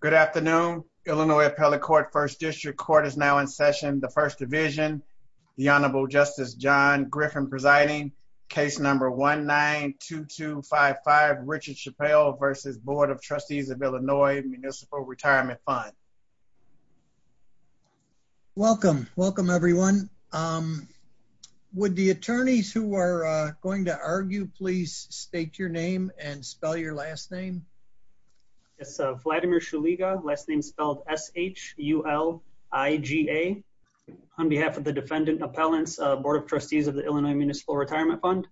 Good afternoon. Illinois Appellate Court First District Court is now in session. The First Division, the Honorable Justice John Griffin presiding, case number 1-9-2255, Richard Chappelle versus Board of Trustees of Illinois Municipal Retirement Fund. Welcome, welcome everyone. Would the attorneys who are going to argue please state your name and spell your last name? Yes, Vladimir Shuliga, last name spelled S-H-U-L-I-G-A. On behalf of the Defendant Appellants, Board of Trustees of the Illinois Municipal Retirement Fund.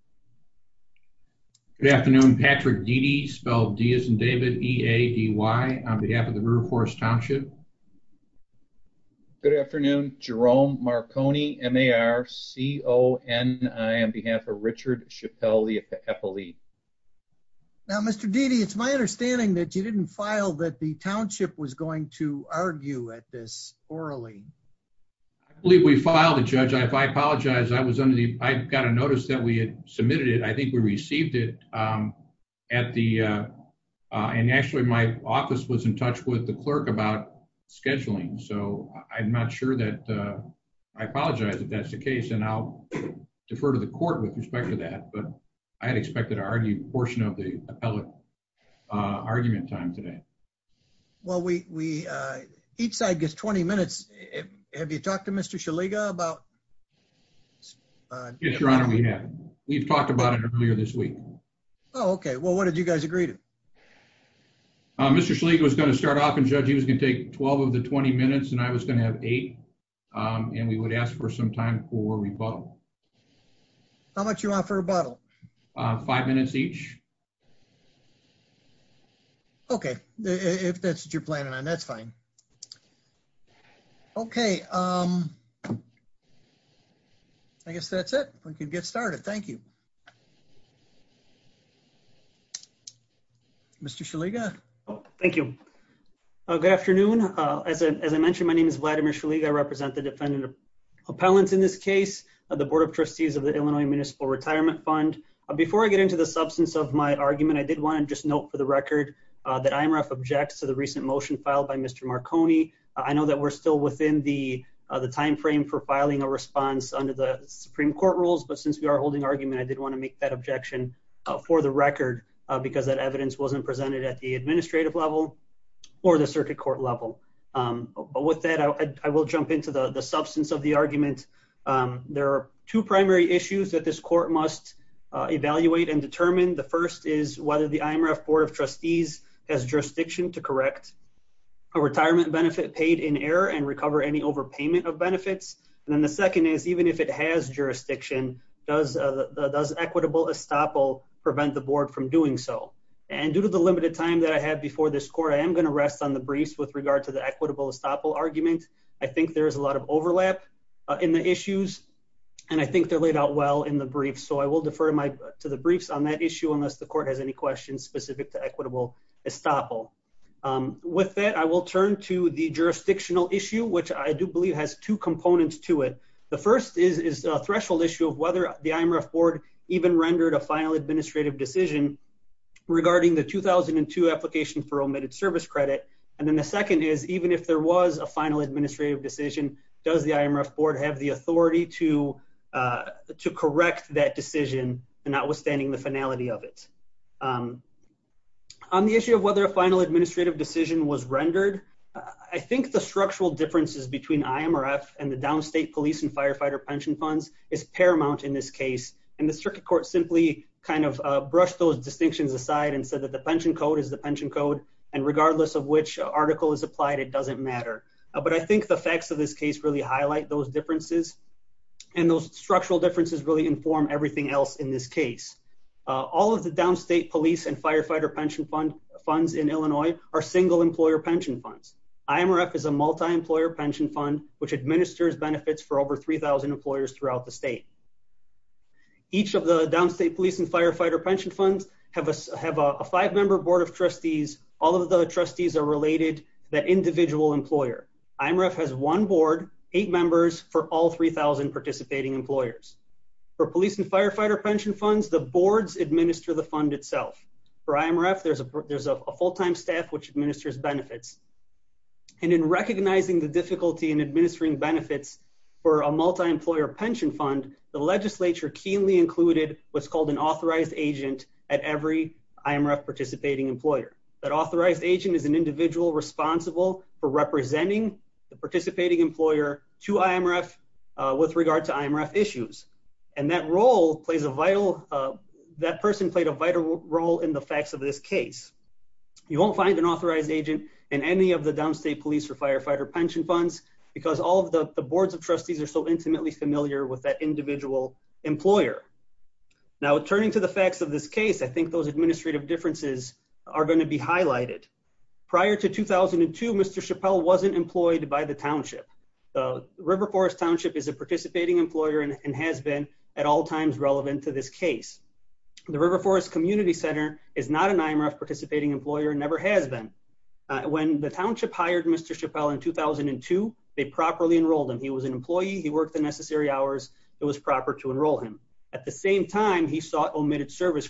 Good afternoon, Patrick Deedy, spelled D as in David, E-A-D-Y, on behalf of the River Forest Township. Good afternoon, Jerome Marconi, M-A-R-C-O-N-I, on behalf of Richard Chappelle. Now, Mr. Deedy, it's my understanding that you didn't file that the township was going to argue at this orally. I believe we filed a judge. If I apologize, I was under the, I got a notice that we had submitted it. I think we received it at the, and actually my office was in touch with the clerk about scheduling, so I'm not sure that, I apologize if that's the case, and I'll argue portion of the appellate argument time today. Well, we, each side gets 20 minutes. Have you talked to Mr. Shuliga about? Yes, Your Honor, we have. We've talked about it earlier this week. Oh, okay. Well, what did you guys agree to? Mr. Shuliga was going to start off, and Judge, he was going to take 12 of the 20 minutes, and I was going to have eight, and we would ask for some time for rebuttal. How much you want for rebuttal? Five minutes each. Okay, if that's what you're planning on, that's fine. Okay, I guess that's it. We can get started. Thank you. Mr. Shuliga. Thank you. Good afternoon. As I mentioned, my name is Vladimir Shuliga. I represent the defendant appellants in this case of the Board of Trustees of the Illinois Municipal Retirement Fund. Before I get into the substance of my argument, I did want to just note for the record that IMRF objects to the recent motion filed by Mr. Marconi. I know that we're still within the timeframe for filing a response under the Supreme Court rules, but since we are holding argument, I did want to make that objection for the record because that evidence wasn't presented at the administrative level or the circuit court level. But with that, I will jump into the evaluate and determine. The first is whether the IMRF Board of Trustees has jurisdiction to correct a retirement benefit paid in error and recover any overpayment of benefits. And then the second is even if it has jurisdiction, does equitable estoppel prevent the board from doing so? And due to the limited time that I have before this court, I am going to rest on the briefs with regard to the equitable estoppel argument. I think there is a lot of overlap in the issues, and I think they're laid out well in the briefs. So I will defer to the briefs on that issue unless the court has any questions specific to equitable estoppel. With that, I will turn to the jurisdictional issue, which I do believe has two components to it. The first is a threshold issue of whether the IMRF Board even rendered a final administrative decision regarding the 2002 application for omitted service credit. And then the second is even if there was a final decision, does the IMRF Board have the authority to correct that decision notwithstanding the finality of it? On the issue of whether a final administrative decision was rendered, I think the structural differences between IMRF and the downstate police and firefighter pension funds is paramount in this case. And the circuit court simply kind of brushed those distinctions aside and said that the pension code is the pension code, and regardless of which article is applied, it doesn't matter. But I think the facts of this case really highlight those differences, and those structural differences really inform everything else in this case. All of the downstate police and firefighter pension funds in Illinois are single employer pension funds. IMRF is a multi-employer pension fund which administers benefits for over 3,000 employers throughout the state. Each of the downstate police and firefighter pension funds have a five-member board of trustees. All of the trustees are related to that individual employer. IMRF has one board, eight members for all 3,000 participating employers. For police and firefighter pension funds, the boards administer the fund itself. For IMRF, there's a full-time staff which administers benefits. And in recognizing the difficulty in administering benefits for a multi-employer pension fund, the legislature keenly included what's called an authorized agent at every IMRF participating employer. That authorized agent is an individual responsible for representing the participating employer to IMRF with regard to IMRF issues. And that role plays a vital, that person played a vital role in the facts of this case. You won't find an authorized agent in any of the downstate police or firefighter pension funds because all of the boards of trustees are so intimately familiar with that individual employer. Now turning to the facts of this case, I think those administrative differences are going to be highlighted. Prior to 2002, Mr. Chappelle wasn't employed by the township. The River Forest Township is a participating employer and has been at all times relevant to this case. The River Forest Community Center is not an IMRF participating employer and never has been. When the township hired Mr. Chappelle in 2002, they properly enrolled him. He was an employee, he worked the necessary hours, it was proper to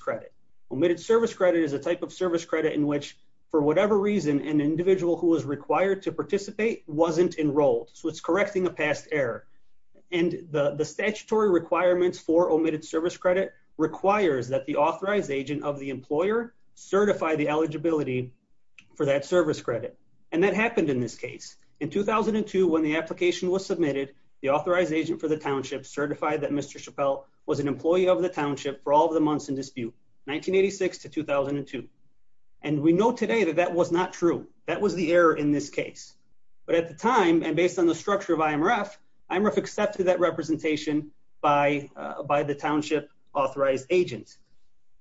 credit. Omitted service credit is a type of service credit in which for whatever reason, an individual who was required to participate wasn't enrolled. So it's correcting a past error. And the statutory requirements for omitted service credit requires that the authorized agent of the employer certify the eligibility for that service credit. And that happened in this case. In 2002, when the application was submitted, the authorized agent for the township certified that Mr. Chappelle was an employee of the township for all the months in dispute, 1986 to 2002. And we know today that that was not true. That was the error in this case. But at the time, and based on the structure of IMRF, IMRF accepted that representation by the township authorized agent.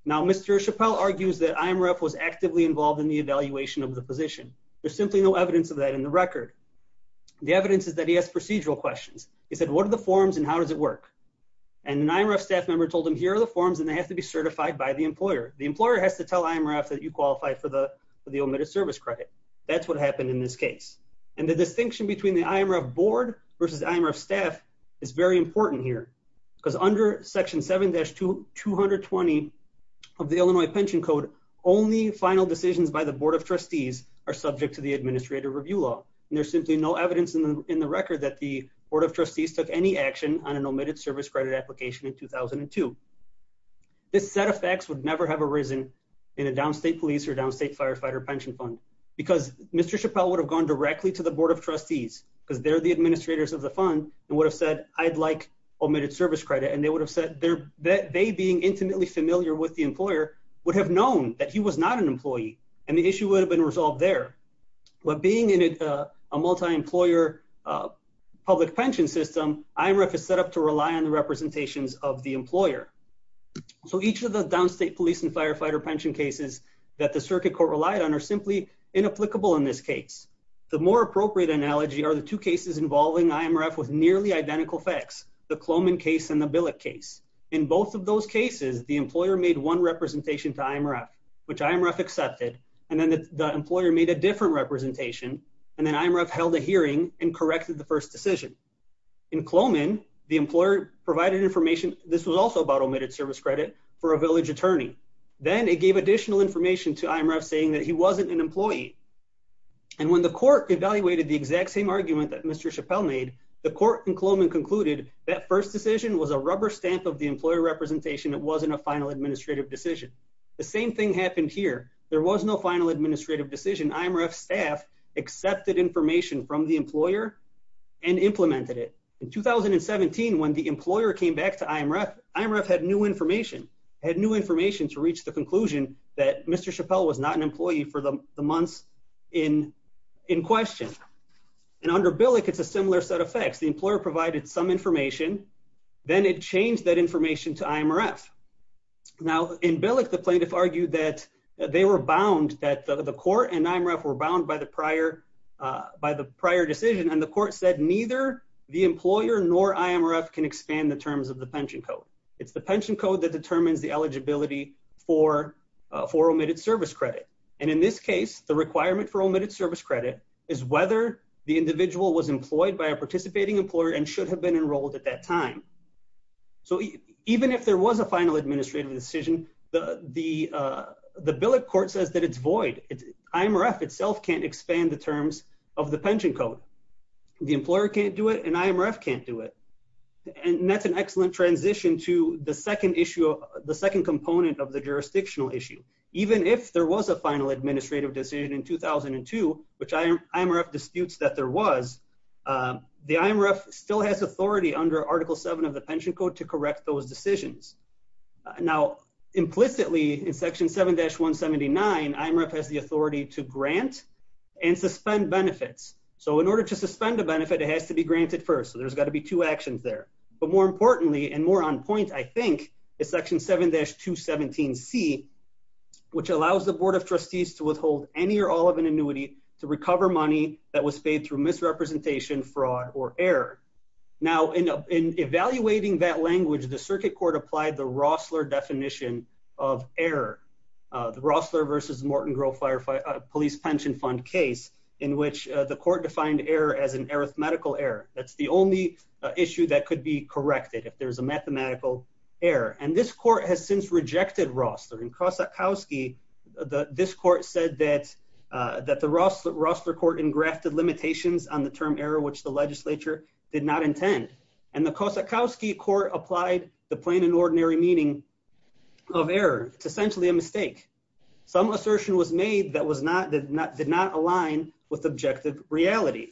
Now Mr. Chappelle argues that IMRF was actively involved in the evaluation of the position. There's simply no evidence of that in the record. The evidence is that he has procedural questions. He said, what are the forms and how does it work? And an IMRF staff member told him, here are the forms, and they have to be certified by the employer. The employer has to tell IMRF that you qualify for the omitted service credit. That's what happened in this case. And the distinction between the IMRF board versus IMRF staff is very important here because under section 7-2, 220 of the Illinois pension code, only final decisions by the board of trustees are subject to the administrative review law. And there's simply no evidence in the record that the board of trustees took any action on an omitted service credit application in 2002. This set of facts would never have arisen in a downstate police or downstate firefighter pension fund because Mr. Chappelle would have gone directly to the board of trustees because they're the administrators of the fund and would have said, I'd like omitted service credit. And they would have said that they being intimately familiar with the employer would have known that he was not an employee and the issue would have been resolved there. But being in a multi-employer public pension system, IMRF is set up to rely on the representations of the employer. So each of the downstate police and firefighter pension cases that the circuit court relied on are simply inapplicable in this case. The more appropriate analogy are the two cases involving IMRF with nearly identical facts, the Cloman case and the Billick case. In both of those cases, the employer made one representation to IMRF, which IMRF accepted, and then the employer made a different representation. And then IMRF held a hearing and corrected the first decision. In Cloman, the employer provided information. This was also about omitted service credit for a village attorney. Then it gave additional information to IMRF saying that he wasn't an employee. And when the court evaluated the exact same argument that Mr. Chappelle made, the court in Cloman concluded that first decision was a rubber stamp of the employer representation. It wasn't a final administrative decision. The same thing happened here. There was no final administrative decision. IMRF staff accepted information from the employer and implemented it. In 2017, when the employer came back to IMRF, IMRF had new information, had new information to reach the conclusion that Mr. Chappelle was not an employee for the months in question. And under Billick, it's a similar set of facts. The employer provided some information, then it changed that information to IMRF. Now in Billick, the plaintiff argued that they were bound, that the court and IMRF were bound by the prior decision. And the court said neither the employer nor IMRF can expand the terms of the pension code. It's the pension code that determines the eligibility for omitted service credit. And in this case, the requirement for omitted service credit is whether the individual was employed by a participating employer and should have been enrolled at that time. So even if there was a final administrative decision, the Billick court says that it's void. IMRF itself can't expand the terms of the pension code. The employer can't do it and IMRF can't do it. And that's an excellent transition to the second issue, the second component of the jurisdictional issue. Even if there was a final administrative decision in 2002, which IMRF disputes that there was, the IMRF still has under article seven of the pension code to correct those decisions. Now implicitly in section 7-179, IMRF has the authority to grant and suspend benefits. So in order to suspend a benefit, it has to be granted first. So there's got to be two actions there, but more importantly, and more on point, I think it's section 7-217C, which allows the board of trustees to withhold any or all of an annuity to recover money that was paid through misrepresentation, fraud or error. Now in evaluating that language, the circuit court applied the Rossler definition of error, the Rossler versus Morton Grove Police Pension Fund case, in which the court defined error as an arithmetical error. That's the only issue that could be corrected if there's a mathematical error. And this court has since rejected Rossler. In Kosakowski, this court said that the Rossler court engrafted limitations on the term error, which the legislature did not intend. And the Kosakowski court applied the plain and ordinary meaning of error. It's essentially a mistake. Some assertion was made that did not align with objective reality.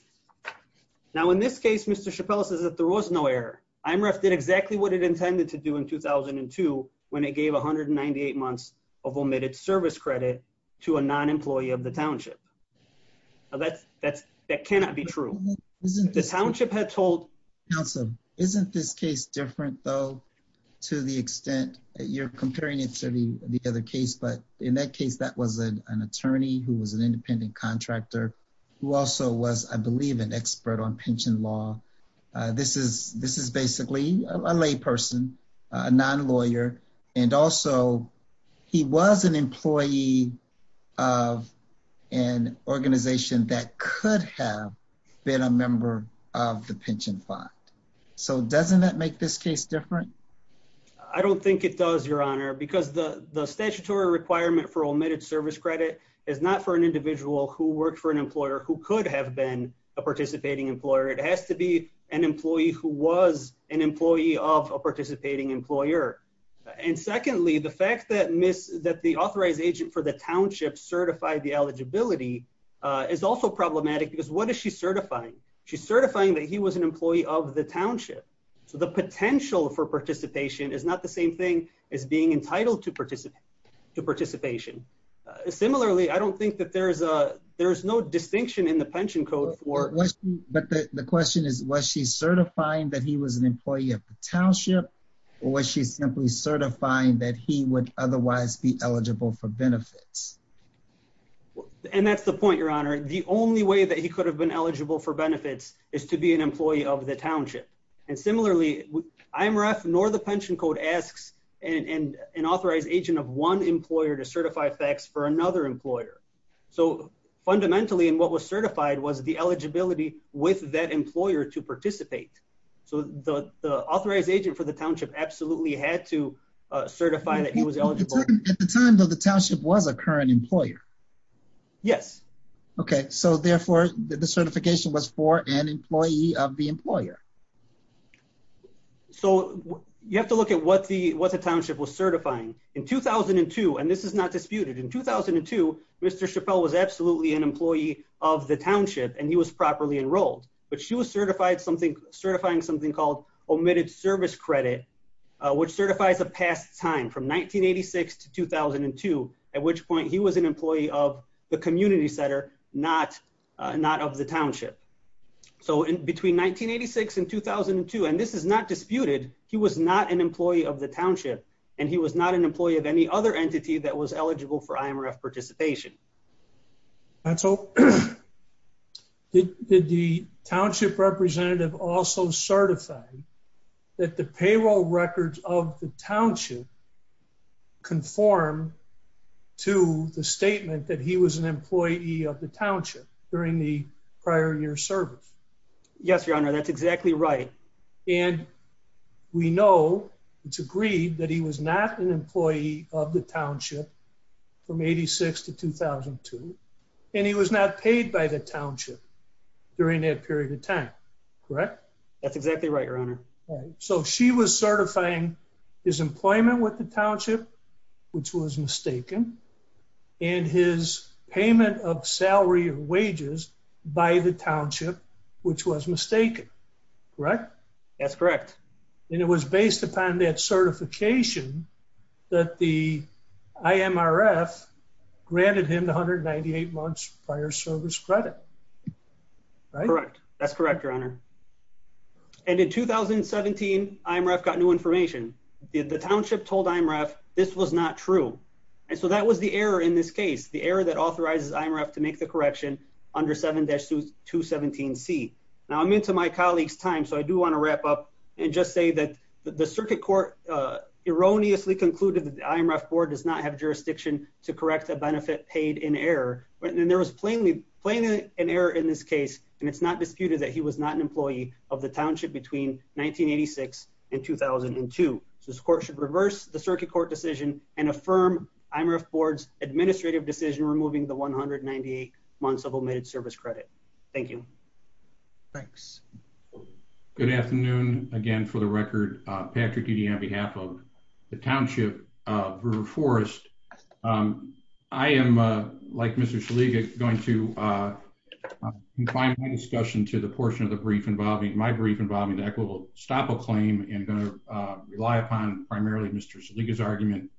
Now in this case, Mr. Chappell says that there was no error. IMRF did exactly what it intended to do in 2002 when it gave 198 months of omitted service credit to a non-employee of the township. Now that cannot be true. The township had told... Counsel, isn't this case different though to the extent that you're comparing it to the other case? But in that case, that was an attorney who was an independent contractor who also was, I believe, an expert on pension law. This is basically a lay person, a non-lawyer. And also, he was an employee of an organization that could have been a member of the pension fund. So doesn't that make this case different? I don't think it does, Your Honor, because the statutory requirement for omitted service credit is not for an individual who worked for an employer who could have been a participating employer. It has to be an employee who was an employee of a participating employer. And secondly, the fact that the authorized agent for the township certified the eligibility is also problematic. Because what is she certifying? She's certifying that he was an employee of the township. So the potential for participation is not the same thing as being entitled to participation. Similarly, I don't think that there's no distinction in the pension code. But the question is, was she certifying that he was an employee of the township, or was she simply certifying that he would otherwise be eligible for benefits? And that's the point, Your Honor. The only way that he could have been eligible for benefits is to be an employee of the township. And similarly, IMRF nor the pension code asks an authorized agent of one employer to certify facts for another employer. So fundamentally, and what was certified was the eligibility with that employer to participate. So the authorized agent for the township absolutely had to certify that he was eligible. At the time, though, the township was a current employer. Yes. Okay. So therefore, the certification was for an employee of the employer. So you have to look at what the township was certifying. In 2002, and this is not disputed, in 2002, Mr. Chappelle was absolutely an employee of the township, and he was properly enrolled. But she was certifying something called omitted service credit, which certifies a past time from 1986 to 2002, at which point he was an employee of the community center, not of the township. So between 1986 and 2002, and this is not disputed, he was not an employee of the township, and he was not an employee of any other entity that was eligible for IMRF participation. And so did the township representative also certify that the payroll records of the township conform to the statement that he was an employee of the township during the prior year service? Yes, Your Honor, that's exactly right. And we know, it's agreed, that he was not an employee of the township from 1986 to 2002, and he was not paid by the township during that period of time, correct? That's exactly right, Your Honor. So she was certifying his employment with the township, which was mistaken, and his payment of salary or wages by the township, which was mistaken, correct? That's correct. And it was based upon that certification that the IMRF granted him 198 months prior service credit, right? Correct, that's correct, Your Honor. And in 2017, IMRF got new information. The township told IMRF this was not true, and so that was the error in this case, the error that authorizes IMRF to make the correction under 7-217C. Now, I'm into my colleague's time, so I do want to wrap up and just say that the circuit court erroneously concluded that the IMRF board does not have jurisdiction to correct a benefit paid in error, and there was plainly an error in this case, and it's not disputed that he was not an employee of the township between 1986 and 2002. So this court should reverse the circuit court decision and affirm IMRF board's administrative decision removing the 198 months of omitted service credit. Thank you. Thanks. Good afternoon, again, for the record. Patrick Dede on behalf of the township of River Forest. I am, like Mr. Shaliga, going to confine my discussion to the portion of the brief involving my brief involving the equitable stop a claim and going to rely upon primarily Mr. Shaliga's argument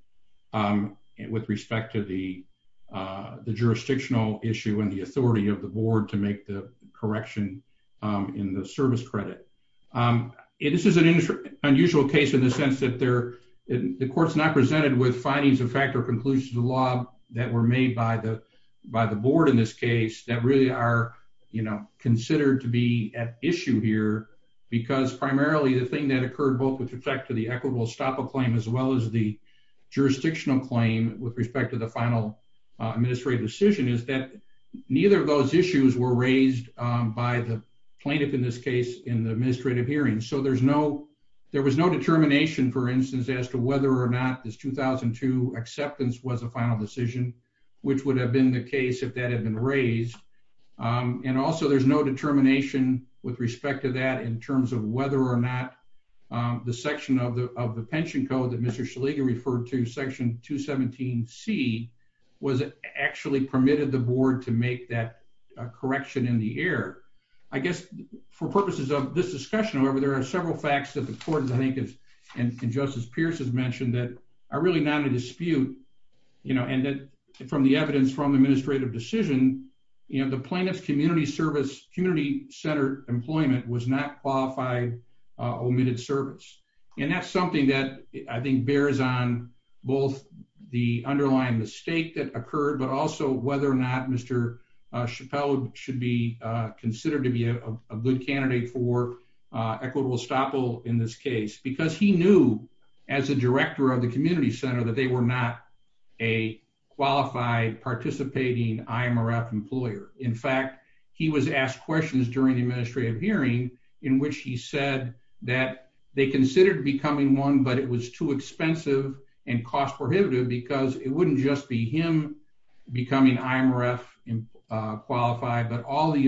with respect to the jurisdictional issue and the authority of the board to make the correction in the service credit. This is an unusual case in the sense that the court's not presented with findings of the law that were made by the board in this case that really are, you know, considered to be at issue here because primarily the thing that occurred both with respect to the equitable stop a claim as well as the jurisdictional claim with respect to the final administrative decision is that neither of those issues were raised by the plaintiff in this case in the administrative hearing. So there was no determination, for instance, as to whether or not this 2002 acceptance was a final decision, which would have been the case if that had been raised. And also there's no determination with respect to that in terms of whether or not the section of the pension code that Mr. Shaliga referred to, section 217C, was actually permitted the board to make that correction in the air. I guess for purposes of this discussion, however, there are several facts that the court, I think, and Justice Pierce has mentioned that are really not in dispute, you know, and that from the evidence from the administrative decision, you know, the plaintiff's community service, community centered employment was not qualified omitted service. And that's something that I think bears on both the underlying mistake that occurred, but also whether or not Mr. Chappelle should be considered to be a good candidate for equitable estoppel in this case, because he knew as a director of the community center that they were not a qualified participating IMRF employer. In fact, he was asked questions during the administrative hearing in which he said that they considered becoming one, but it was too expensive and cost prohibitive because it wouldn't just be him becoming IMRF qualified, but all the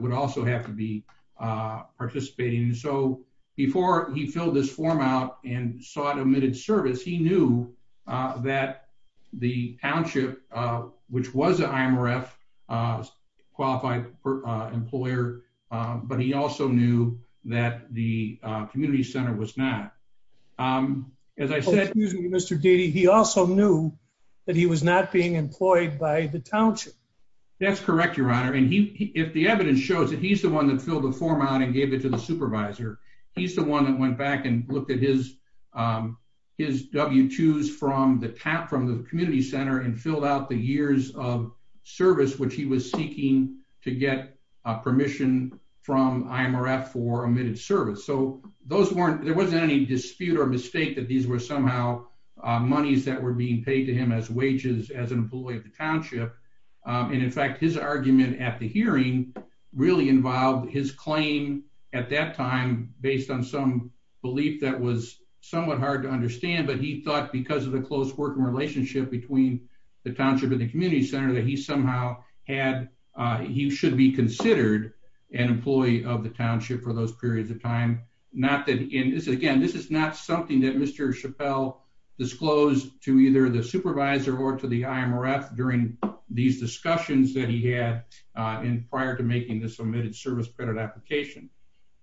would also have to be participating. So before he filled this form out and sought omitted service, he knew that the township, which was an IMRF qualified employer, but he also knew that the community center was not. As I said, excuse me, Mr. Deedy, he also knew that he was not being that he's the one that filled the form out and gave it to the supervisor. He's the one that went back and looked at his W-2s from the community center and filled out the years of service, which he was seeking to get permission from IMRF for omitted service. So there wasn't any dispute or mistake that these were somehow monies that were being paid to him as wages as an employee of the township. And in fact, his argument at the hearing really involved his claim at that time, based on some belief that was somewhat hard to understand, but he thought because of the close working relationship between the township and the community center that he somehow had, he should be considered an employee of the township for those periods of time. Again, this is not something that Mr. Chappelle disclosed to either the supervisor or to the IMRF during these discussions that he had prior to making this omitted service credit application.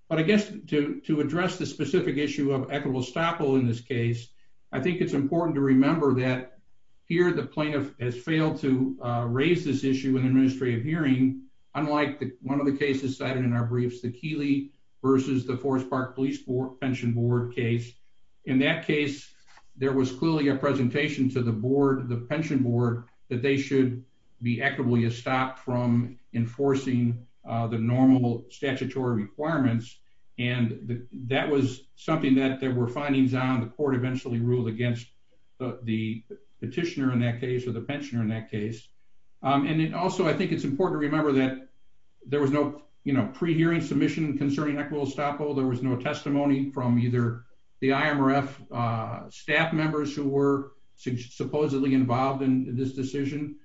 But I guess to address the specific issue of equitable estoppel in this case, I think it's important to remember that here the plaintiff has failed to raise this issue in the administrative hearing, unlike one of the cases cited in our briefs, the Keeley versus the Forest Park Police Pension Board case. In that case, there was clearly a presentation to the board, the pension board, that they should be equitably estopped from enforcing the normal statutory requirements. And that was something that there were findings on. The court eventually ruled against the petitioner in that case or the pensioner in that case. And then also, I think it's important to remember that there was no, you know, pre-hearing submission concerning equitable estoppel. There was no testimony from either the IMRF staff members who were supposedly involved in this decision.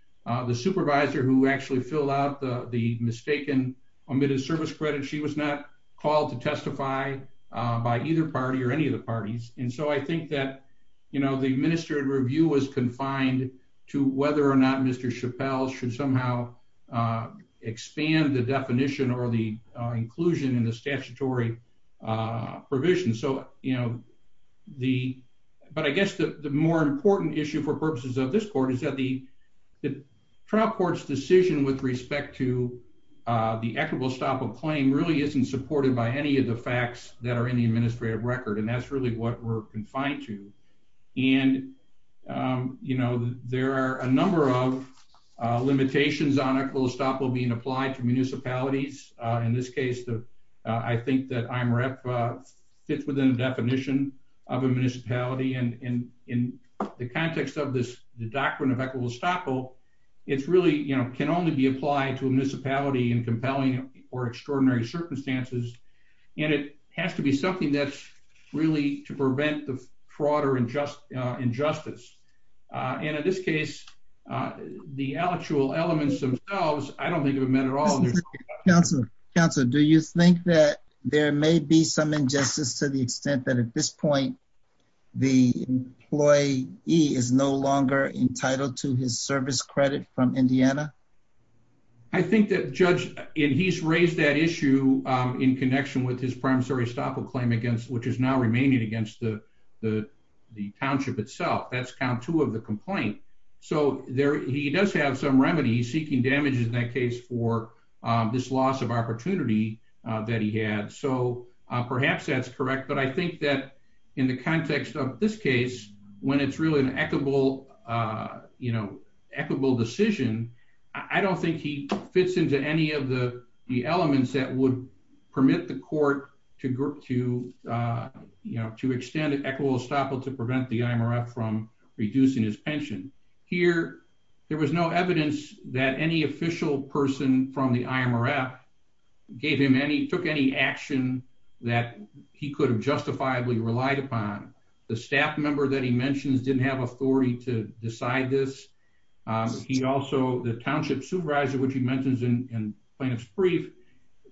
The supervisor who actually filled out the mistaken omitted service credit, she was not called to testify by either party or any of the parties. And so I think that, you know, the administrative review was confined to whether or not Mr. Chappelle should somehow expand the definition or the inclusion in the statutory provision. So, you know, the, but I guess the more important issue for purposes of this court is that the trial court's decision with respect to the equitable estoppel claim really isn't supported by any of the facts that are in the administrative record. And that's really what we're confined to. And, you know, there are a number of limitations on equitable estoppel being applied to municipalities. In this case, the, I think that IMRF fits within the definition of a municipality. And in the context of this, the doctrine of equitable estoppel, it's really, you know, can only be applied to a municipality in compelling or extraordinary circumstances. And it has to be something that's really to prevent the fraud or injustice. And in this case, the actual elements themselves, I don't think it would have meant at all. Counselor, do you think that there may be some injustice to the extent that at this point, the employee is no longer entitled to his service credit from Indiana? I think that Judge, and he's raised that issue in connection with his estoppel claim against, which is now remaining against the township itself. That's count two of the complaint. So there, he does have some remedies seeking damages in that case for this loss of opportunity that he had. So perhaps that's correct. But I think that in the context of this case, when it's really an equitable, you know, equitable decision, I don't think he fits into any of the elements that would permit the court to, you know, to extend equitable estoppel to prevent the IMRF from reducing his pension. Here, there was no evidence that any official person from the IMRF gave him any, took any action that he could have justifiably relied upon. The staff member that he mentions didn't have authority to decide this. He also, the township supervisor, which he mentions in plaintiff's brief,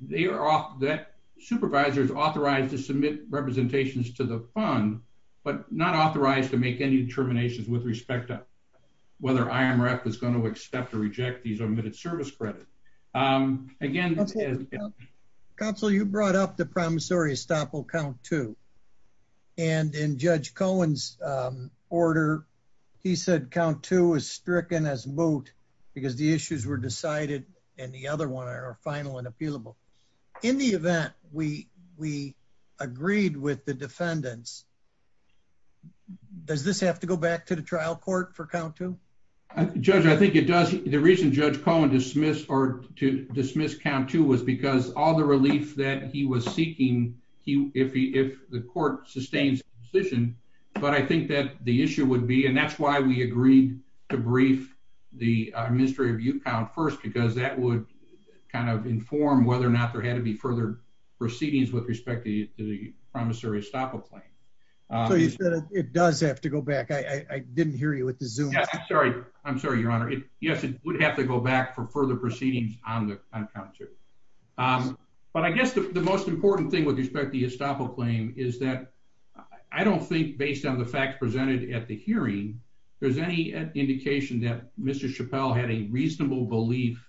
they are off that supervisors authorized to submit representations to the fund, but not authorized to make any determinations with respect to whether IMRF is going to accept or reject these omitted service credits. Again, counsel, you brought up the promissory estoppel count too. And in Judge Cohen's order, he said count two is stricken as moot because the issues were decided and the other one are final and appealable. In the event we agreed with the defendants, does this have to go back to the trial court for count two? Judge, I think it does. The reason Judge Cohen dismissed or to dismiss count two was because all the relief that he was seeking, if the court sustains position, but I think that the issue would be, and that's why we agreed to brief the administrative view count first, because that would kind of inform whether or not there had to be further proceedings with respect to the promissory estoppel claim. So you said it does have to go back. I didn't hear you at the Zoom. Yeah, I'm sorry. I'm sorry, your honor. Yes, it would have to go back for further proceedings on count two. But I guess the most important thing with respect to the estoppel claim is that I don't think based on the facts presented at the hearing, there's any indication that Mr. Chappelle had a reasonable belief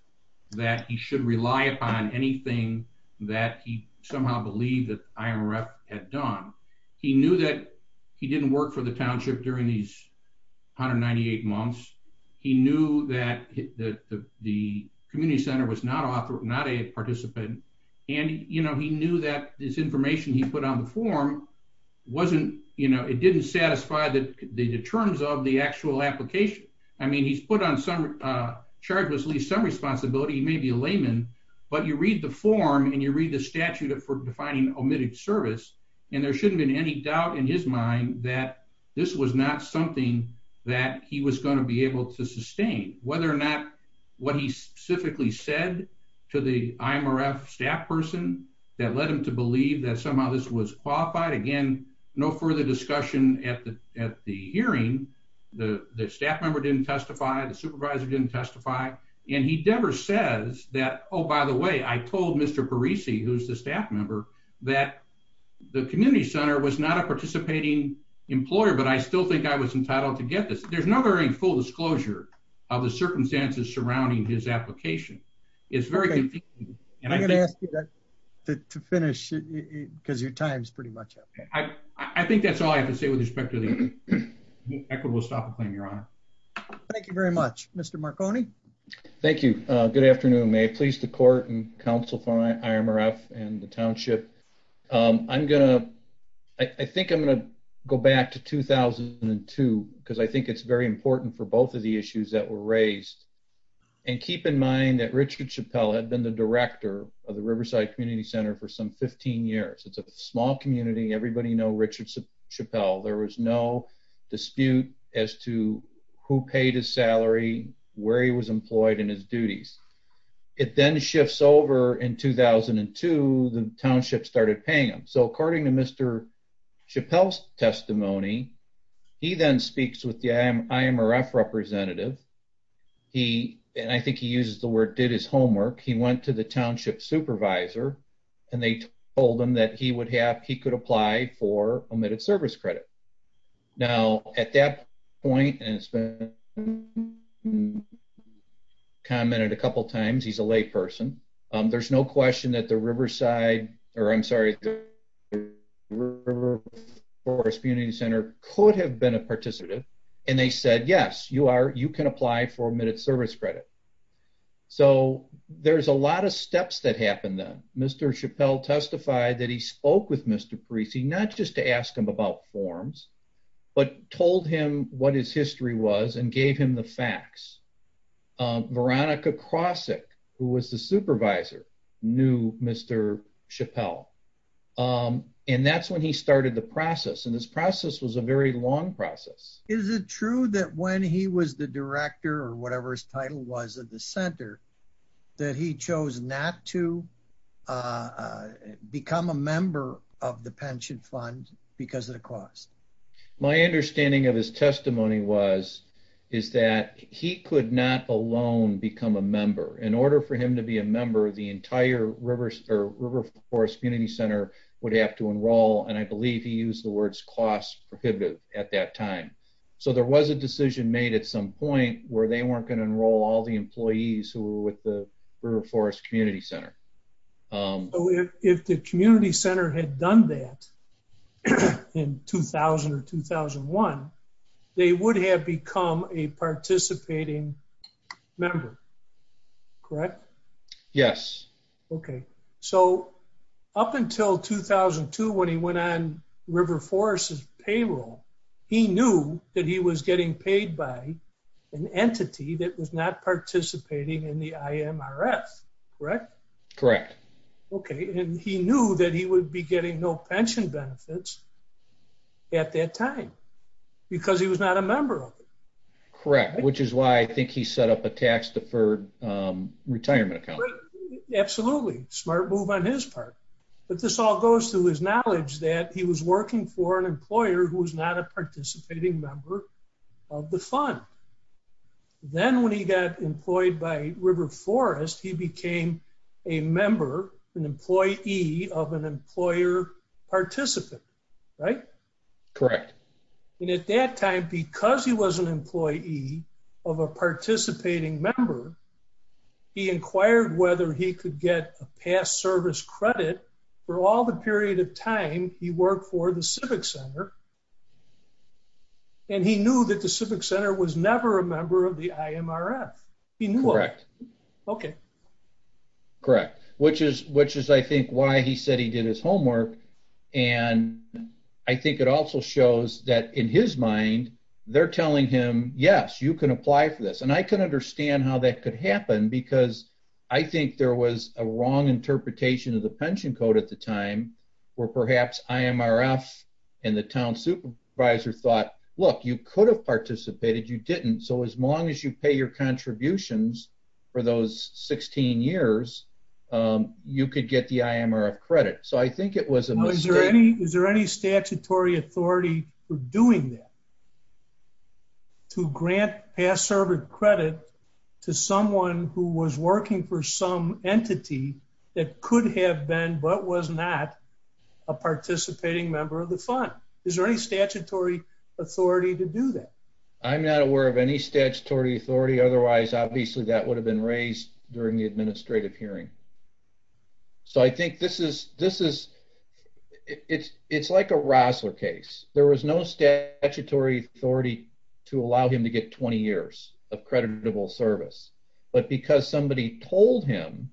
that he should rely upon anything that he somehow believed that IRF had done. He knew that he didn't work for the township during these 198 months. He knew that the community center was not a participant. And, you know, he knew that this information he put on the form wasn't, you know, it didn't satisfy the terms of the actual application. I mean, he's put on some charge with at least some responsibility. He may be a layman, but you read the form and you read the statute for defining omitted service, and there shouldn't be any doubt in his mind that this was not something that he was going to be that led him to believe that somehow this was qualified. Again, no further discussion at the hearing. The staff member didn't testify. The supervisor didn't testify. And he never says that, oh, by the way, I told Mr. Parisi, who's the staff member, that the community center was not a participating employer, but I still think I was entitled to get this. There's no very full disclosure of the circumstances surrounding his application. It's very confusing. And I'm going to ask you to finish because your time's pretty much up. I think that's all I have to say with respect to the equitable stop and claim, Your Honor. Thank you very much, Mr. Marconi. Thank you. Good afternoon. May it please the court and counsel for IMRF and the township. I think I'm going to go back to 2002 because I think it's very important for both of the issues that were raised. And keep in mind that Richard Chappell had been the director of the Riverside Community Center for some 15 years. It's a small community. Everybody knows Richard Chappell. There was no dispute as to who paid his salary, where he was employed, and his duties. It then shifts over in 2002, the township started paying him. So according to Mr. Chappell's testimony, he then speaks with the IMRF representative. He, and I think he uses the word, did his homework. He went to the township supervisor and they told him that he could apply for omitted service credit. Now at that point, and it's been commented a couple times, he's a lay person. There's no question that the Riverside, or I'm sorry, the River Forest Community Center could have been a participant. And they said, yes, you are, you can apply for omitted service credit. So there's a lot of steps that happened then. Mr. Chappell testified that he spoke with Mr. Parisi, not just to ask him about forms, but told him what his history was and gave him the facts. Veronica Krawcik, who was the supervisor, knew Mr. Chappell. And that's when he started the process. And this process was a very long process. Is it true that when he was the director, or whatever his title was at the center, that he chose not to become a member of the pension fund because of the cost? My understanding of his testimony was, is that he could not alone become a member. In order for him to be a member, the entire River Forest Community Center would have to enroll. And I believe he used the words cost prohibitive at that time. So there was a decision made at some point where they weren't going to enroll all the employees who were with the River Forest Community Center. So if the community center had done that in 2000 or 2001, they would have become a participating member, correct? Yes. Okay. So up until 2002, when he went on River Forest's payroll, he knew that he was getting paid by an entity that was not participating in the IMRF, correct? Correct. Okay. And he knew that he would be getting no pension benefits at that time, because he was not a member of it. Correct. Which is why I think he set up a tax deferred retirement account. Absolutely. Smart move on his part. But this all goes to his of the fund. Then when he got employed by River Forest, he became a member, an employee of an employer participant, right? Correct. And at that time, because he was an employee of a participating member, he inquired whether he could get a past service credit for all the period of time he worked for the Civic Center. And he knew that the Civic Center was never a member of the IMRF. Correct. Okay. Correct. Which is I think why he said he did his homework. And I think it also shows that in his mind, they're telling him, yes, you can apply for this. And I can understand how that could happen, because I think there was a wrong interpretation of the pension code at the time, where perhaps IMRF and the town supervisor thought, look, you could have participated, you didn't. So as long as you pay your contributions for those 16 years, you could get the IMRF credit. So I think it was a mistake. Is there any statutory authority for doing that? To grant past service credit to someone who was working for some entity that could have been but was not a participating member of the fund? Is there any statutory authority to do that? I'm not aware of any statutory authority. Otherwise, obviously, that would have been raised during the administrative hearing. So I think this is, it's like a Rossler case, there was no statutory authority to allow him to get 20 years of creditable service. But because somebody told him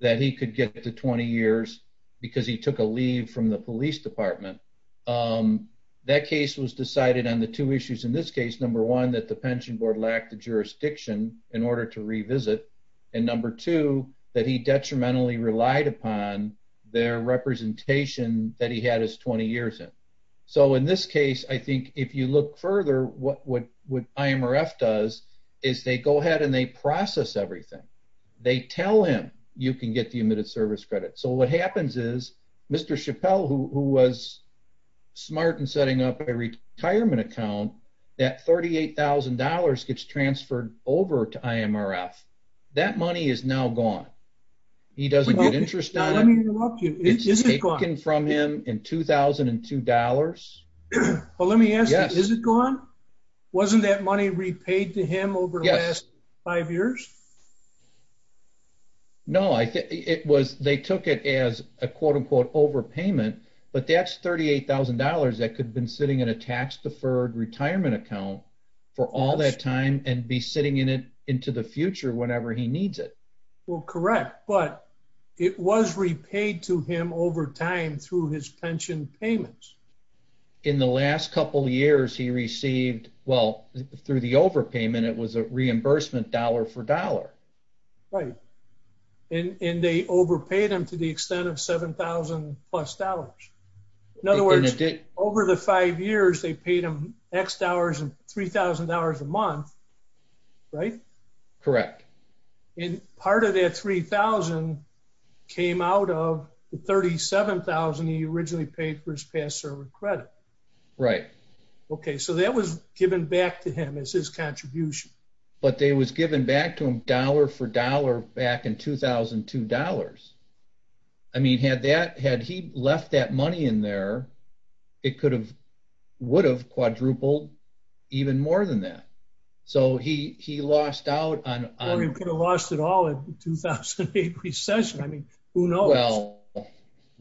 that he could get to 20 years, because he took a leave from the police department, that case was decided on the two issues. In this case, number one, that the pension board lacked the jurisdiction in order to revisit. And number two, that he detrimentally relied upon their representation that he had his 20 years in. So in this case, I think if you look further, what IMRF does is they go ahead and they process everything. They tell him, you can get the admitted service credit. So what happens is, Mr. Chappelle, who was smart and setting up a retirement account, that $38,000 gets transferred over to IMRF. That money is now gone. He doesn't get interest on it. Let me interrupt you. Is it gone? It's taken from him in 2002 dollars. Well, let me ask you, is it gone? Wasn't that money repaid to him over the last five years? No, it was, they took it as a quote, unquote, overpayment. But that's $38,000 that could have been sitting in a tax deferred retirement account for all that time and be sitting in it into the future whenever he needs it. Well, correct. But it was repaid to him over time through his pension payments. In the last couple of years he received, well, through the overpayment, it was a reimbursement dollar for dollar. Right. And they overpaid him to the extent of 7,000 plus dollars. In other words, over the five years they paid him X dollars and $3,000 a month, right? Correct. And part of that $3,000 came out of the $37,000 he originally paid for his past service credit. Right. Okay. So that was given back to him as his contribution. But they was given back to him dollar for dollar back in 2002 dollars. I mean, had he left that money in there, it could have, would have quadrupled even more than that. So he lost out on- Morgan could have lost it all in 2008 recession. I mean, who knows? Well,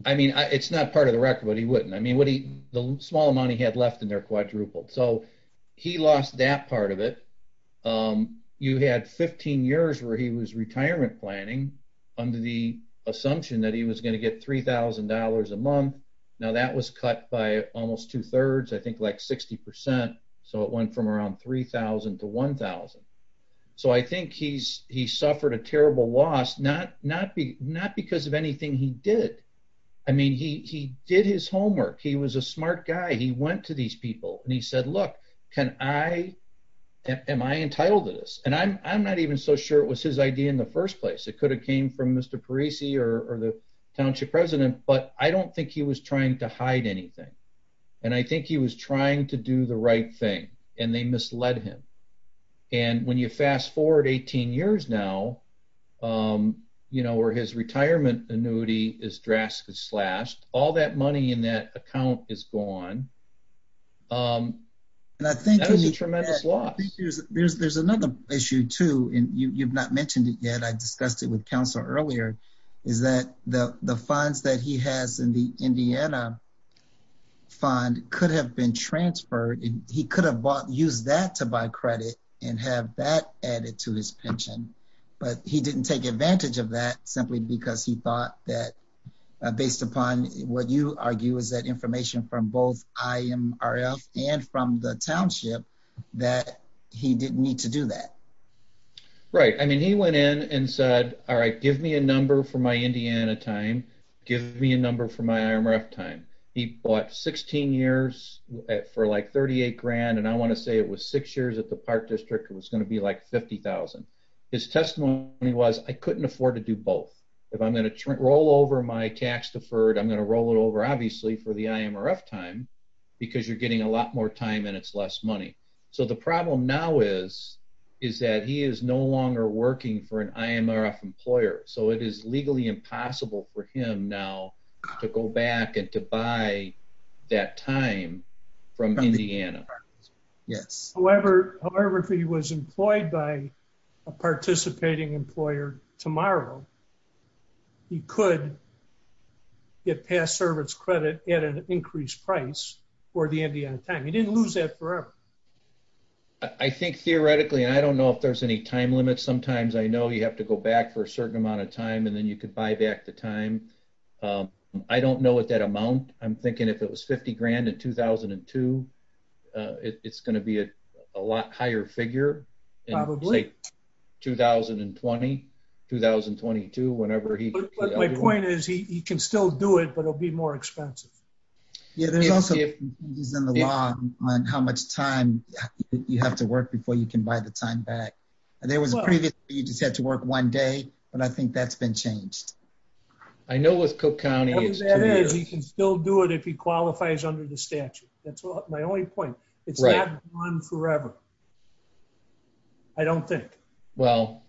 I mean, it's not part of the record, but he wouldn't. I mean, what he, the small amount he had left in there quadrupled. So he lost that part of it. You had 15 years where he was retirement planning under the assumption that he was going to get $3,000 a month. Now that was cut by almost two thirds, I think like 60%. So it went from around 3,000 to 1,000. So I think he's, he suffered a terrible loss, not because of anything he did. I mean, he did his homework. He was a smart guy. He went to these people and he said, look, can I, am I entitled to this? And I'm not even so sure it was his idea in the first place. It could have came from Mr. Parisi or the township president, but I don't think he was trying to hide anything. And I think he was trying to do the right thing and they misled him. And when you fast forward 18 years now, you know, where his retirement annuity is drastically slashed, all that money in that account is gone. And I think there's, there's another issue too. And you, you've not mentioned it yet. I discussed it with councilor earlier is that the funds that he has in the Indiana fund could have been transferred. He could have bought, used that to buy credit and have that added to his pension, but he didn't take advantage of that simply because he thought that based upon what you argue is that information from both IMRF and from the township that he didn't need to do that. Right. I mean, he went in and said, all right, give me a number for my Indiana time. Give me a number for my IMRF time. He bought 16 years for like 38 grand. And I want to say it was six years at the park district. It was going to be like 50,000. His testimony was I couldn't afford to do both. If I'm going to roll over my tax deferred, I'm going to roll it over obviously for the IMRF time because you're getting a lot more time and it's less money. So the problem now is, is that he is no longer working for an IMRF employer. So it is legally impossible for him now to go back and to buy that time from Indiana. Yes. However, however, if he was employed by a participating employer tomorrow, he could get past service credit at an increased price for the Indiana time. He didn't lose that forever. I think theoretically, I don't know if there's any time limits. Sometimes I know you have to go back for a certain amount of time and then you could buy back the time. I don't know what amount. I'm thinking if it was 50 grand in 2002, it's going to be a lot higher figure. 2020, 2022, whenever he, my point is he can still do it, but it'll be more expensive. Yeah. There's also he's in the law on how much time you have to work before you can buy the time back. And there was a previous, you just had to work one day, but I think that's been changed. I know with cook County, he can still do it. If he qualifies under the statute, that's my only point it's forever. I don't think, well,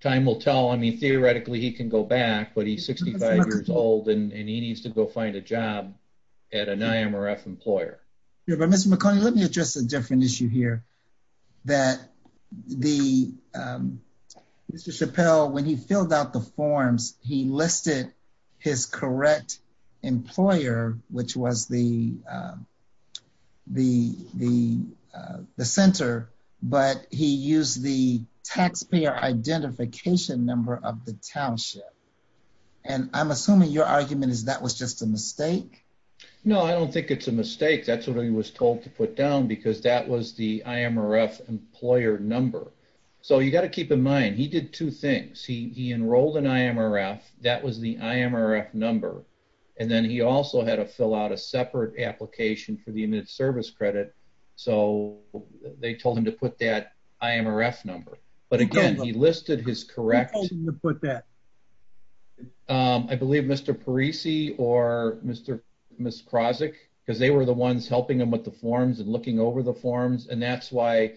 time will tell. I mean, theoretically he can go back, but he's 65 years old and he needs to go find a job at an IMRF employer. Yeah. But Mr. McConnell, let me address a different issue here that the, um, Mr. Chappelle, when he filled out the forms, he listed his correct employer, which was the, um, the, the, uh, the center, but he used the taxpayer identification number of the township. And I'm assuming your argument is that was just a mistake. No, I don't think it's a mistake. That's what he was told to put down because that was the employer number. So you got to keep in mind, he did two things. He, he enrolled in IMRF. That was the IMRF number. And then he also had to fill out a separate application for the immediate service credit. So they told him to put that IMRF number, but again, he listed his correct to put that. Um, I believe Mr. Parisi or Mr. Ms. Causek, cause they were the ones helping them with the forms and looking over the forms. And that's why,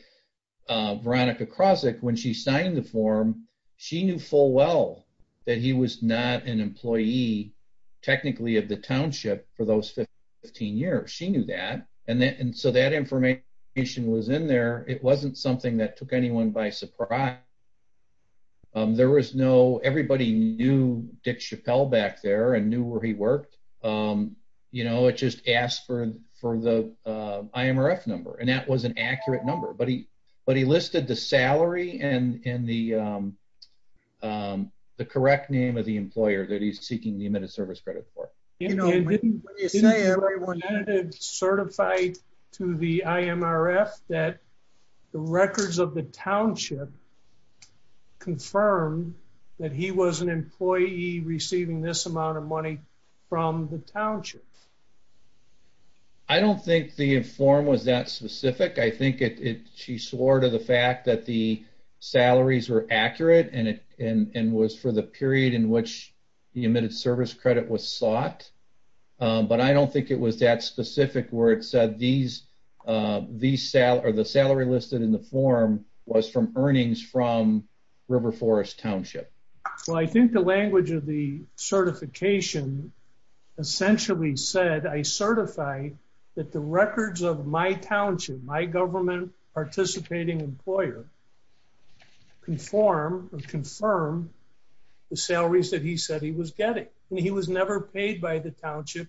uh, Veronica Causek, when she signed the form, she knew full well that he was not an employee technically of the township for those 15 years. She knew that. And then, and so that information was in there. It wasn't something that took anyone by surprise. Um, there was no, everybody knew Dick Chappelle back there and knew where he worked. Um, you know, it just asked for, for the, uh, IMRF number and that was an accurate number, but he, but he listed the salary and, and the, um, um, the correct name of the employer that he's seeking the immediate service credit for certified to the IMRF that the records of the township. I don't think the form was that specific. I think it, it, she swore to the fact that the salaries were accurate and it, and, and was for the period in which the emitted service credit was sought. Um, but I don't think it was that specific where it said these, uh, these salaries or the salary listed in the form was from earnings from River Forest Township. Well, I think the language of the certification essentially said, I certify that the records of my township, my government participating employer conform or confirm the salaries that he said he was getting. And he was never paid by the township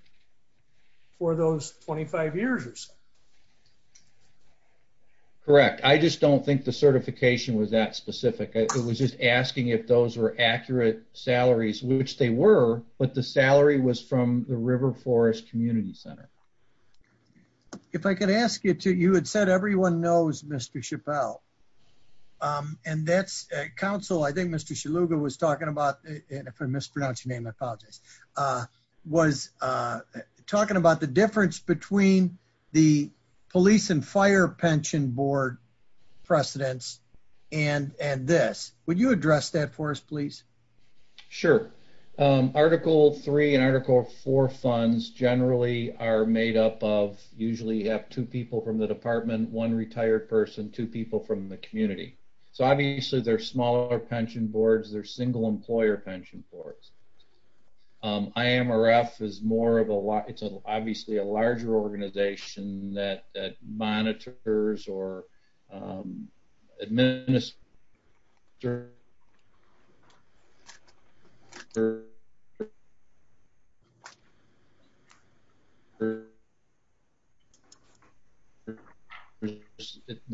for those 25 years or so. Correct. I just don't think the certification was that specific. It was just asking if those were accurate salaries, which they were, but the salary was from the River Forest Community Center. If I could ask you to, you had said everyone knows Mr. Chappelle. Um, and that's a council. I think Mr. Shaluga was talking about, if I mispronounce your name, I apologize, uh, was, uh, talking about the difference between the police and fire pension board precedents. And, and this, would you address that for us, please? Sure. Um, Article three and Article four funds generally are made up of usually have two people from the department, one retired person, two people from the community. So obviously they're smaller pension boards. They're single employer pension boards. Um, I am RF is more of a lot. It's obviously a larger organization that, that monitors or, um, administer the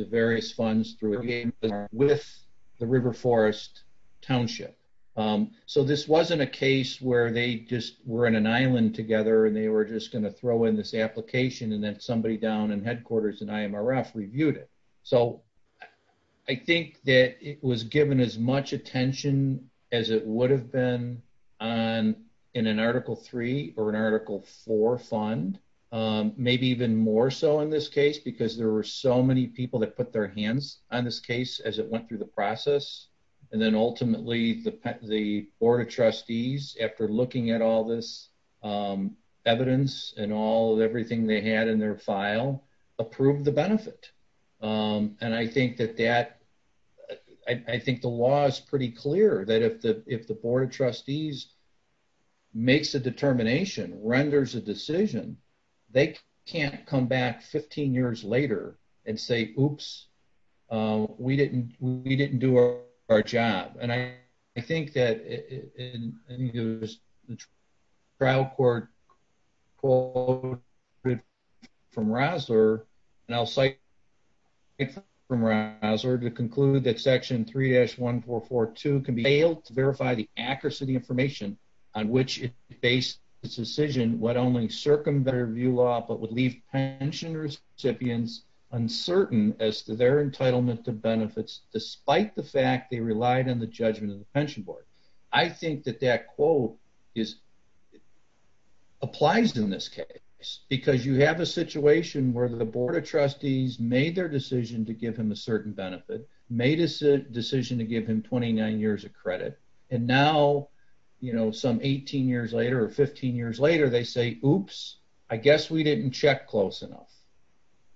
various funds through with the River Forest Township. Um, so this wasn't a case where they just were in an Island together and they were just going to throw in this application. And then somebody down in headquarters and IMRF reviewed it. So I think that it was given as much attention as it would have been on, in an Article three or an Article four fund. Um, maybe even more so in this case, because there were so many people that put their hands on this case as it went through the process. And then ultimately the pet, the board of trustees, after looking at all this, um, evidence and all of everything they had in their file, approved the benefit. Um, and I think that that, I think the law is pretty clear that if the, if the board of trustees makes a determination, renders a decision, they can't come back 15 years later and say, oops, um, we didn't, we didn't do our job. And I, I think that it, and I think it was the trial court call from Rosler and I'll say from Rosler to conclude that section three dash 1442 can be failed to verify the accuracy of the information on which based decision, what only circumvented review law, but would leave pensioners recipients uncertain as to their entitlement to benefits, despite the fact they relied on the judgment of the pension board. I think that that quote is applies in this case because you have a situation where the board of trustees made their decision to give him a certain benefit, made a decision to give him 29 years of credit. And now, you know, some 18 years later or 15 years later, they say, oops, I guess we didn't check close enough.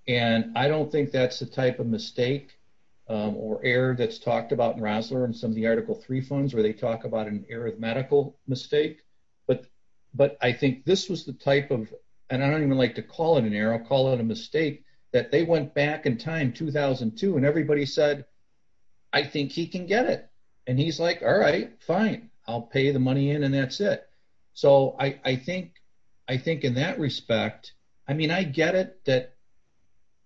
And I don't think that's the type of mistake, um, or air that's talked about in Rosler and some of the article three funds, where they talk about an arithmetical mistake. But, but I think this was the type of, and I don't even like to call it an arrow, call it a mistake that they went back in time, 2002, and everybody said, I think he can get it. And he's like, all right, fine. I'll pay the money in and that's it. So I think, I think in that respect, I mean, I get it that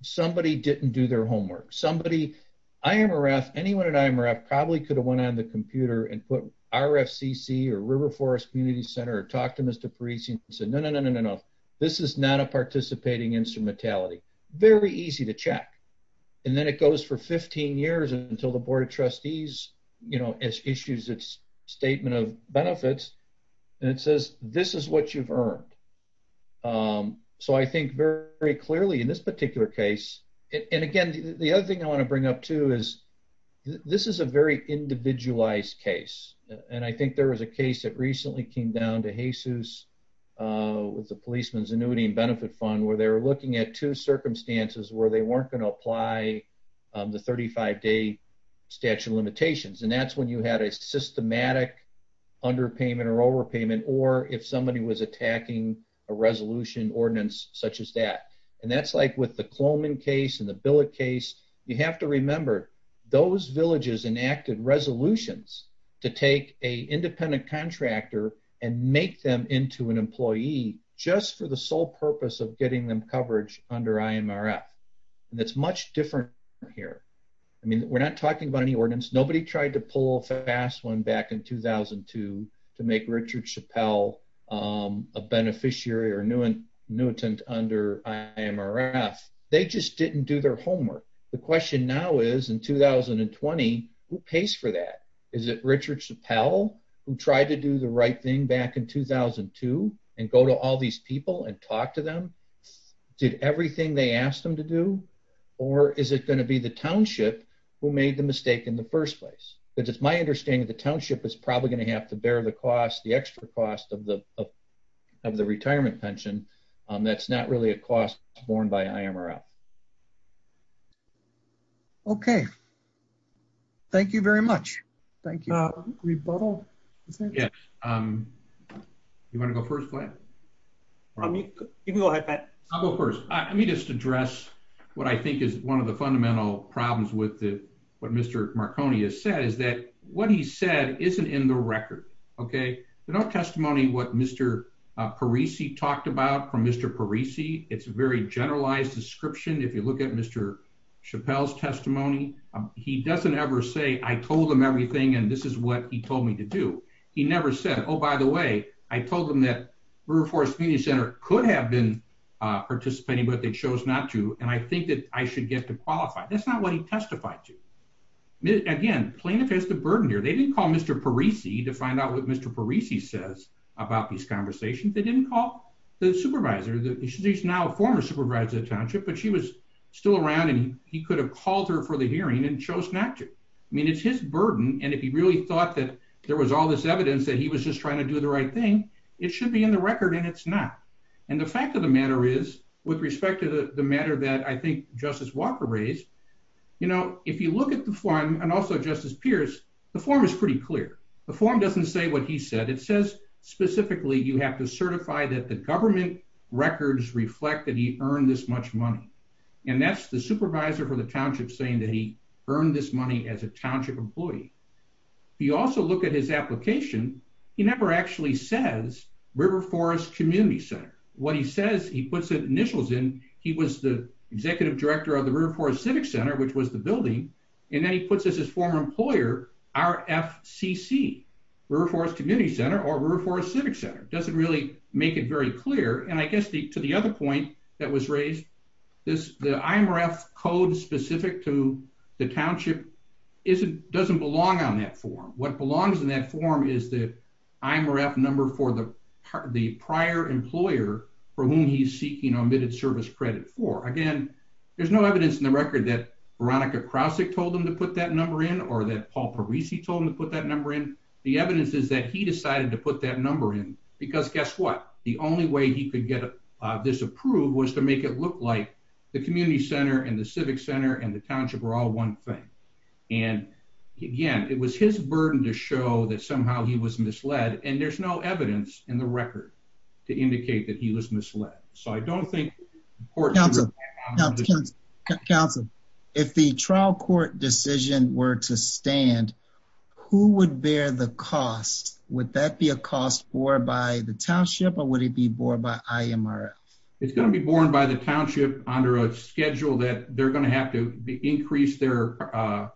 somebody didn't do their homework. Somebody, I am a ref anyone and I'm a ref probably could have went on the computer and put RFCC or river forest community center or talk to Mr. Parisi and said, no, no, this is not a participating instrumentality, very easy to check. And then it goes for 15 years until the board of trustees, you know, as issues it's statement of benefits. And it says, this is what you've earned. Um, so I think very, very clearly in this particular case. And again, the other thing I want to bring up too, is this is a very individualized case. And I think there was a case that recently came down to Jesus, uh, with the policeman's annuity and benefit fund, where they were looking at two circumstances where they weren't going to apply the 35 day statute of limitations. And that's when you had a systematic underpayment or overpayment, or if somebody was attacking a resolution ordinance such as that. And that's like with the Coleman case and the billet case, you have to remember those villages enacted resolutions to take a independent contractor and make them into an employee just for the sole purpose of getting them coverage under IMRF. And that's much different here. I mean, we're not talking about any ordinance. Nobody tried to pull a fast one back in 2002 to make Richard Chappelle, um, a beneficiary or new and Newton under IMRF. They just didn't do their homework. The question now is in 2020, who pays for that? Is it Richard Chappelle who tried to do the right thing back in 2002 and go to all these people and talk to them, did everything they asked them to do, or is it going to be the township who made the mistake in the first place? Because it's my understanding that the township is probably going to have to bear the cost, the extra cost of the, of the retirement pension. Um, that's not really a cost borne by IMRF. Okay. Thank you very much. Thank you. Uh, rebuttal. Yeah. Um, you want to go first? I'll go first. Let me just address what I think is one of the fundamental problems with the, what Mr. Marconi has said is that what he said isn't in the record. Okay. There's no testimony what Mr. Parisi talked about from Mr. Parisi. It's a very generalized description. If you look at Mr. Chappelle's testimony, he doesn't ever say, I told them everything. And this is what he told me to do. He never said, Oh, by the way, I told them that we were forced community center could have been, uh, participating, but they chose not to. And I think that I should get to qualify. That's not what he testified to. Again, plaintiff has the burden here. They didn't call Mr. Parisi to find out what Mr. Parisi says about these conversations. They didn't call the supervisor that he's now a former supervisor of township, but she was still around and he could have called her for the hearing and chose not to. I mean, it's his burden. And if he really thought that there was all this evidence that he was just trying to do the right thing, it should be in the record and it's not. And the fact of the matter is with respect to the matter that I think justice Walker raised, you know, if you look at the form and also justice Pierce, the form is pretty clear. The form doesn't say what he said. It says specifically, you have to certify that the government records reflect that he earned this much money. And that's the supervisor for the township saying that he earned this money as a township employee. He also look at his application. He never actually says river forest community center. What he says, he puts it initials in. He was the executive director of the river forest civic center, which was the building. And then he puts us as former employer, our FCC river forest community center or river forest civic center doesn't really make it very clear. And I guess the, to the other point that was raised this, the IMRF code specific to the township is it doesn't belong on that form. What belongs in that form is the IMRF number for the part of the prior employer for whom he's service credit for. Again, there's no evidence in the record that Veronica Krause told him to put that number in or that Paul Parisi told him to put that number in the evidence is that he decided to put that number in because guess what? The only way he could get this approved was to make it look like the community center and the civic center and the township are all one thing. And again, it was his burden to show that somehow he was misled. And there's no evidence in the court. Counsel, if the trial court decision were to stand, who would bear the cost? Would that be a cost for by the township or would it be bored by IMR? It's going to be born by the township under a schedule that they're going to have to increase their, uh,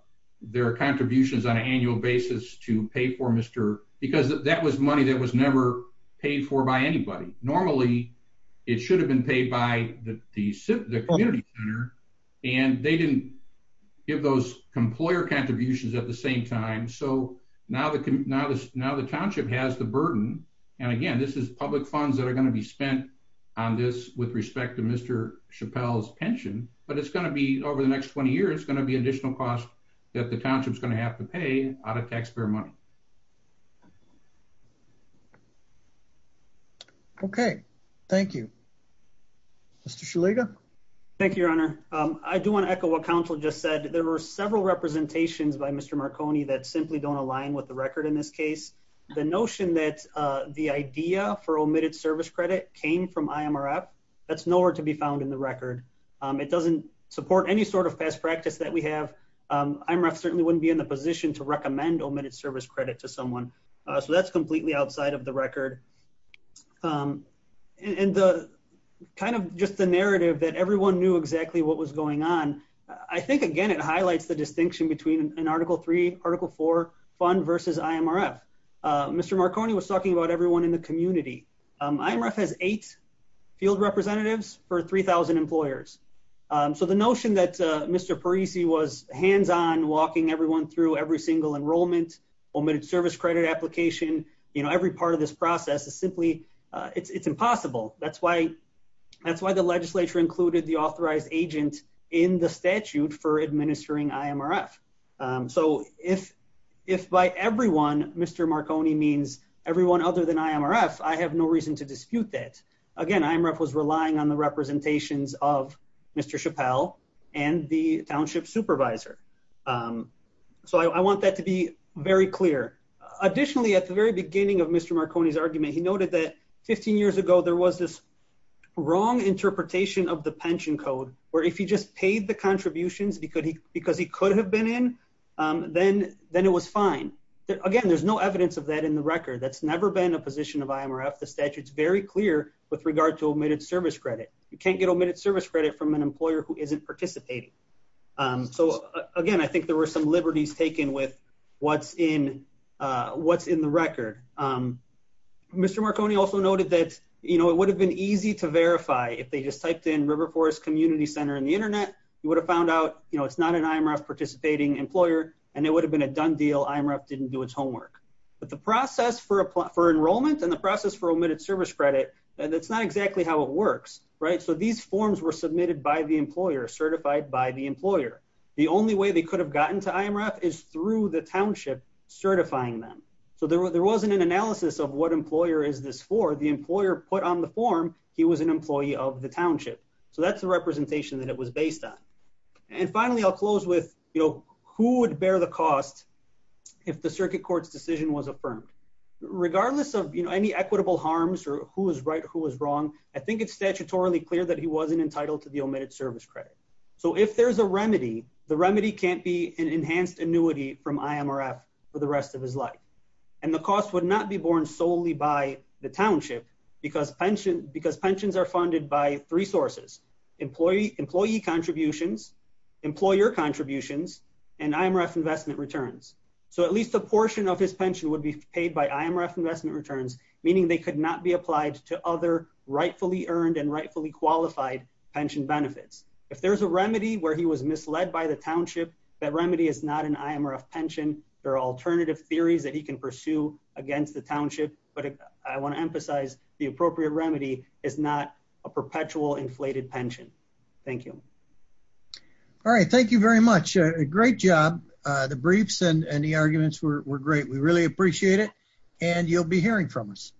their contributions on an annual basis to pay for Mr. Because that was money that was never paid for by anybody. Normally, it should have been paid by the community center and they didn't give those employer contributions at the same time. So now the township has the burden. And again, this is public funds that are going to be spent on this with respect to Mr. Chappelle's pension, but it's going to be over the next 20 years, it's going to be an additional cost that the township is going to have to pay out of taxpayer money. Okay. Thank you, Mr. Shaliga. Thank you, Your Honor. Um, I do want to echo what counsel just said. There were several representations by Mr. Marconi that simply don't align with the record. In this case, the notion that, uh, the idea for omitted service credit came from IMRF. That's nowhere to be found in the record. Um, it doesn't support any sort of best practice that we have. IMRF certainly wouldn't be in the position to recommend omitted service credit to someone. So that's completely outside of the record. Um, and the kind of just the narrative that everyone knew exactly what was going on. I think, again, it highlights the distinction between an article three, article four fund versus IMRF. Uh, Mr. Marconi was talking about everyone in the community. Um, IMRF has eight field representatives for 3000 employers. Um, so the notion that, Mr. Parisi was hands-on walking everyone through every single enrollment omitted service credit application, you know, every part of this process is simply, uh, it's, it's impossible. That's why, that's why the legislature included the authorized agent in the statute for administering IMRF. So if, if by everyone, Mr. Marconi means everyone other than IMRF, I have no reason to dispute that again, IMRF was relying on the representations of Mr. Chappelle and the township supervisor. Um, so I want that to be very clear. Additionally, at the very beginning of Mr. Marconi's argument, he noted that 15 years ago, there was this wrong interpretation of the pension code, where if he just paid the contributions because he, because he could have been in, um, then, then it was fine. Again, there's no evidence of that in the record. That's never been a position of IMRF. The statute is very clear with regard to omitted service credit. You can't get omitted service credit from an employer who isn't participating. Um, so again, I think there were some liberties taken with what's in, uh, what's in the record. Um, Mr. Marconi also noted that, you know, it would have been easy to verify if they just typed in River Forest Community Center in the internet, you would have found out, you know, it's not an IMRF participating employer and it would have been a done deal. IMRF didn't do its homework, but the process for, for enrollment and the process for omitted service credit, and it's not exactly how it works, right? So these forms were submitted by the employer, certified by the employer. The only way they could have gotten to IMRF is through the township certifying them. So there wasn't an analysis of what employer is this for the employer put on the form. He was an employee of the township. So that's the representation that it was based on. And finally, I'll close with, you know, who would bear the cost if the circuit court's decision was affirmed regardless of, you know, any equitable harms or who was right, who was wrong. I think it's statutorily clear that he wasn't entitled to the omitted service credit. So if there's a remedy, the remedy can't be an enhanced annuity from IMRF for the rest of his life. And the cost would not be borne solely by the township because pension, because pensions are funded by three sources, employee, employee contributions, employer contributions, and IMRF investment returns. So at least a portion of his pension would be paid by IMRF investment returns, meaning they could not be applied to other rightfully earned and rightfully qualified pension benefits. If there's a remedy where he was misled by the township, that remedy is not an IMRF pension. There are alternative theories that he can pursue against the township, but I want to emphasize the appropriate remedy is not a perpetual inflated pension. Thank you. All right. Thank you very much. Great job. The briefs and the arguments were great. We really appreciate it. And you'll be hearing from us.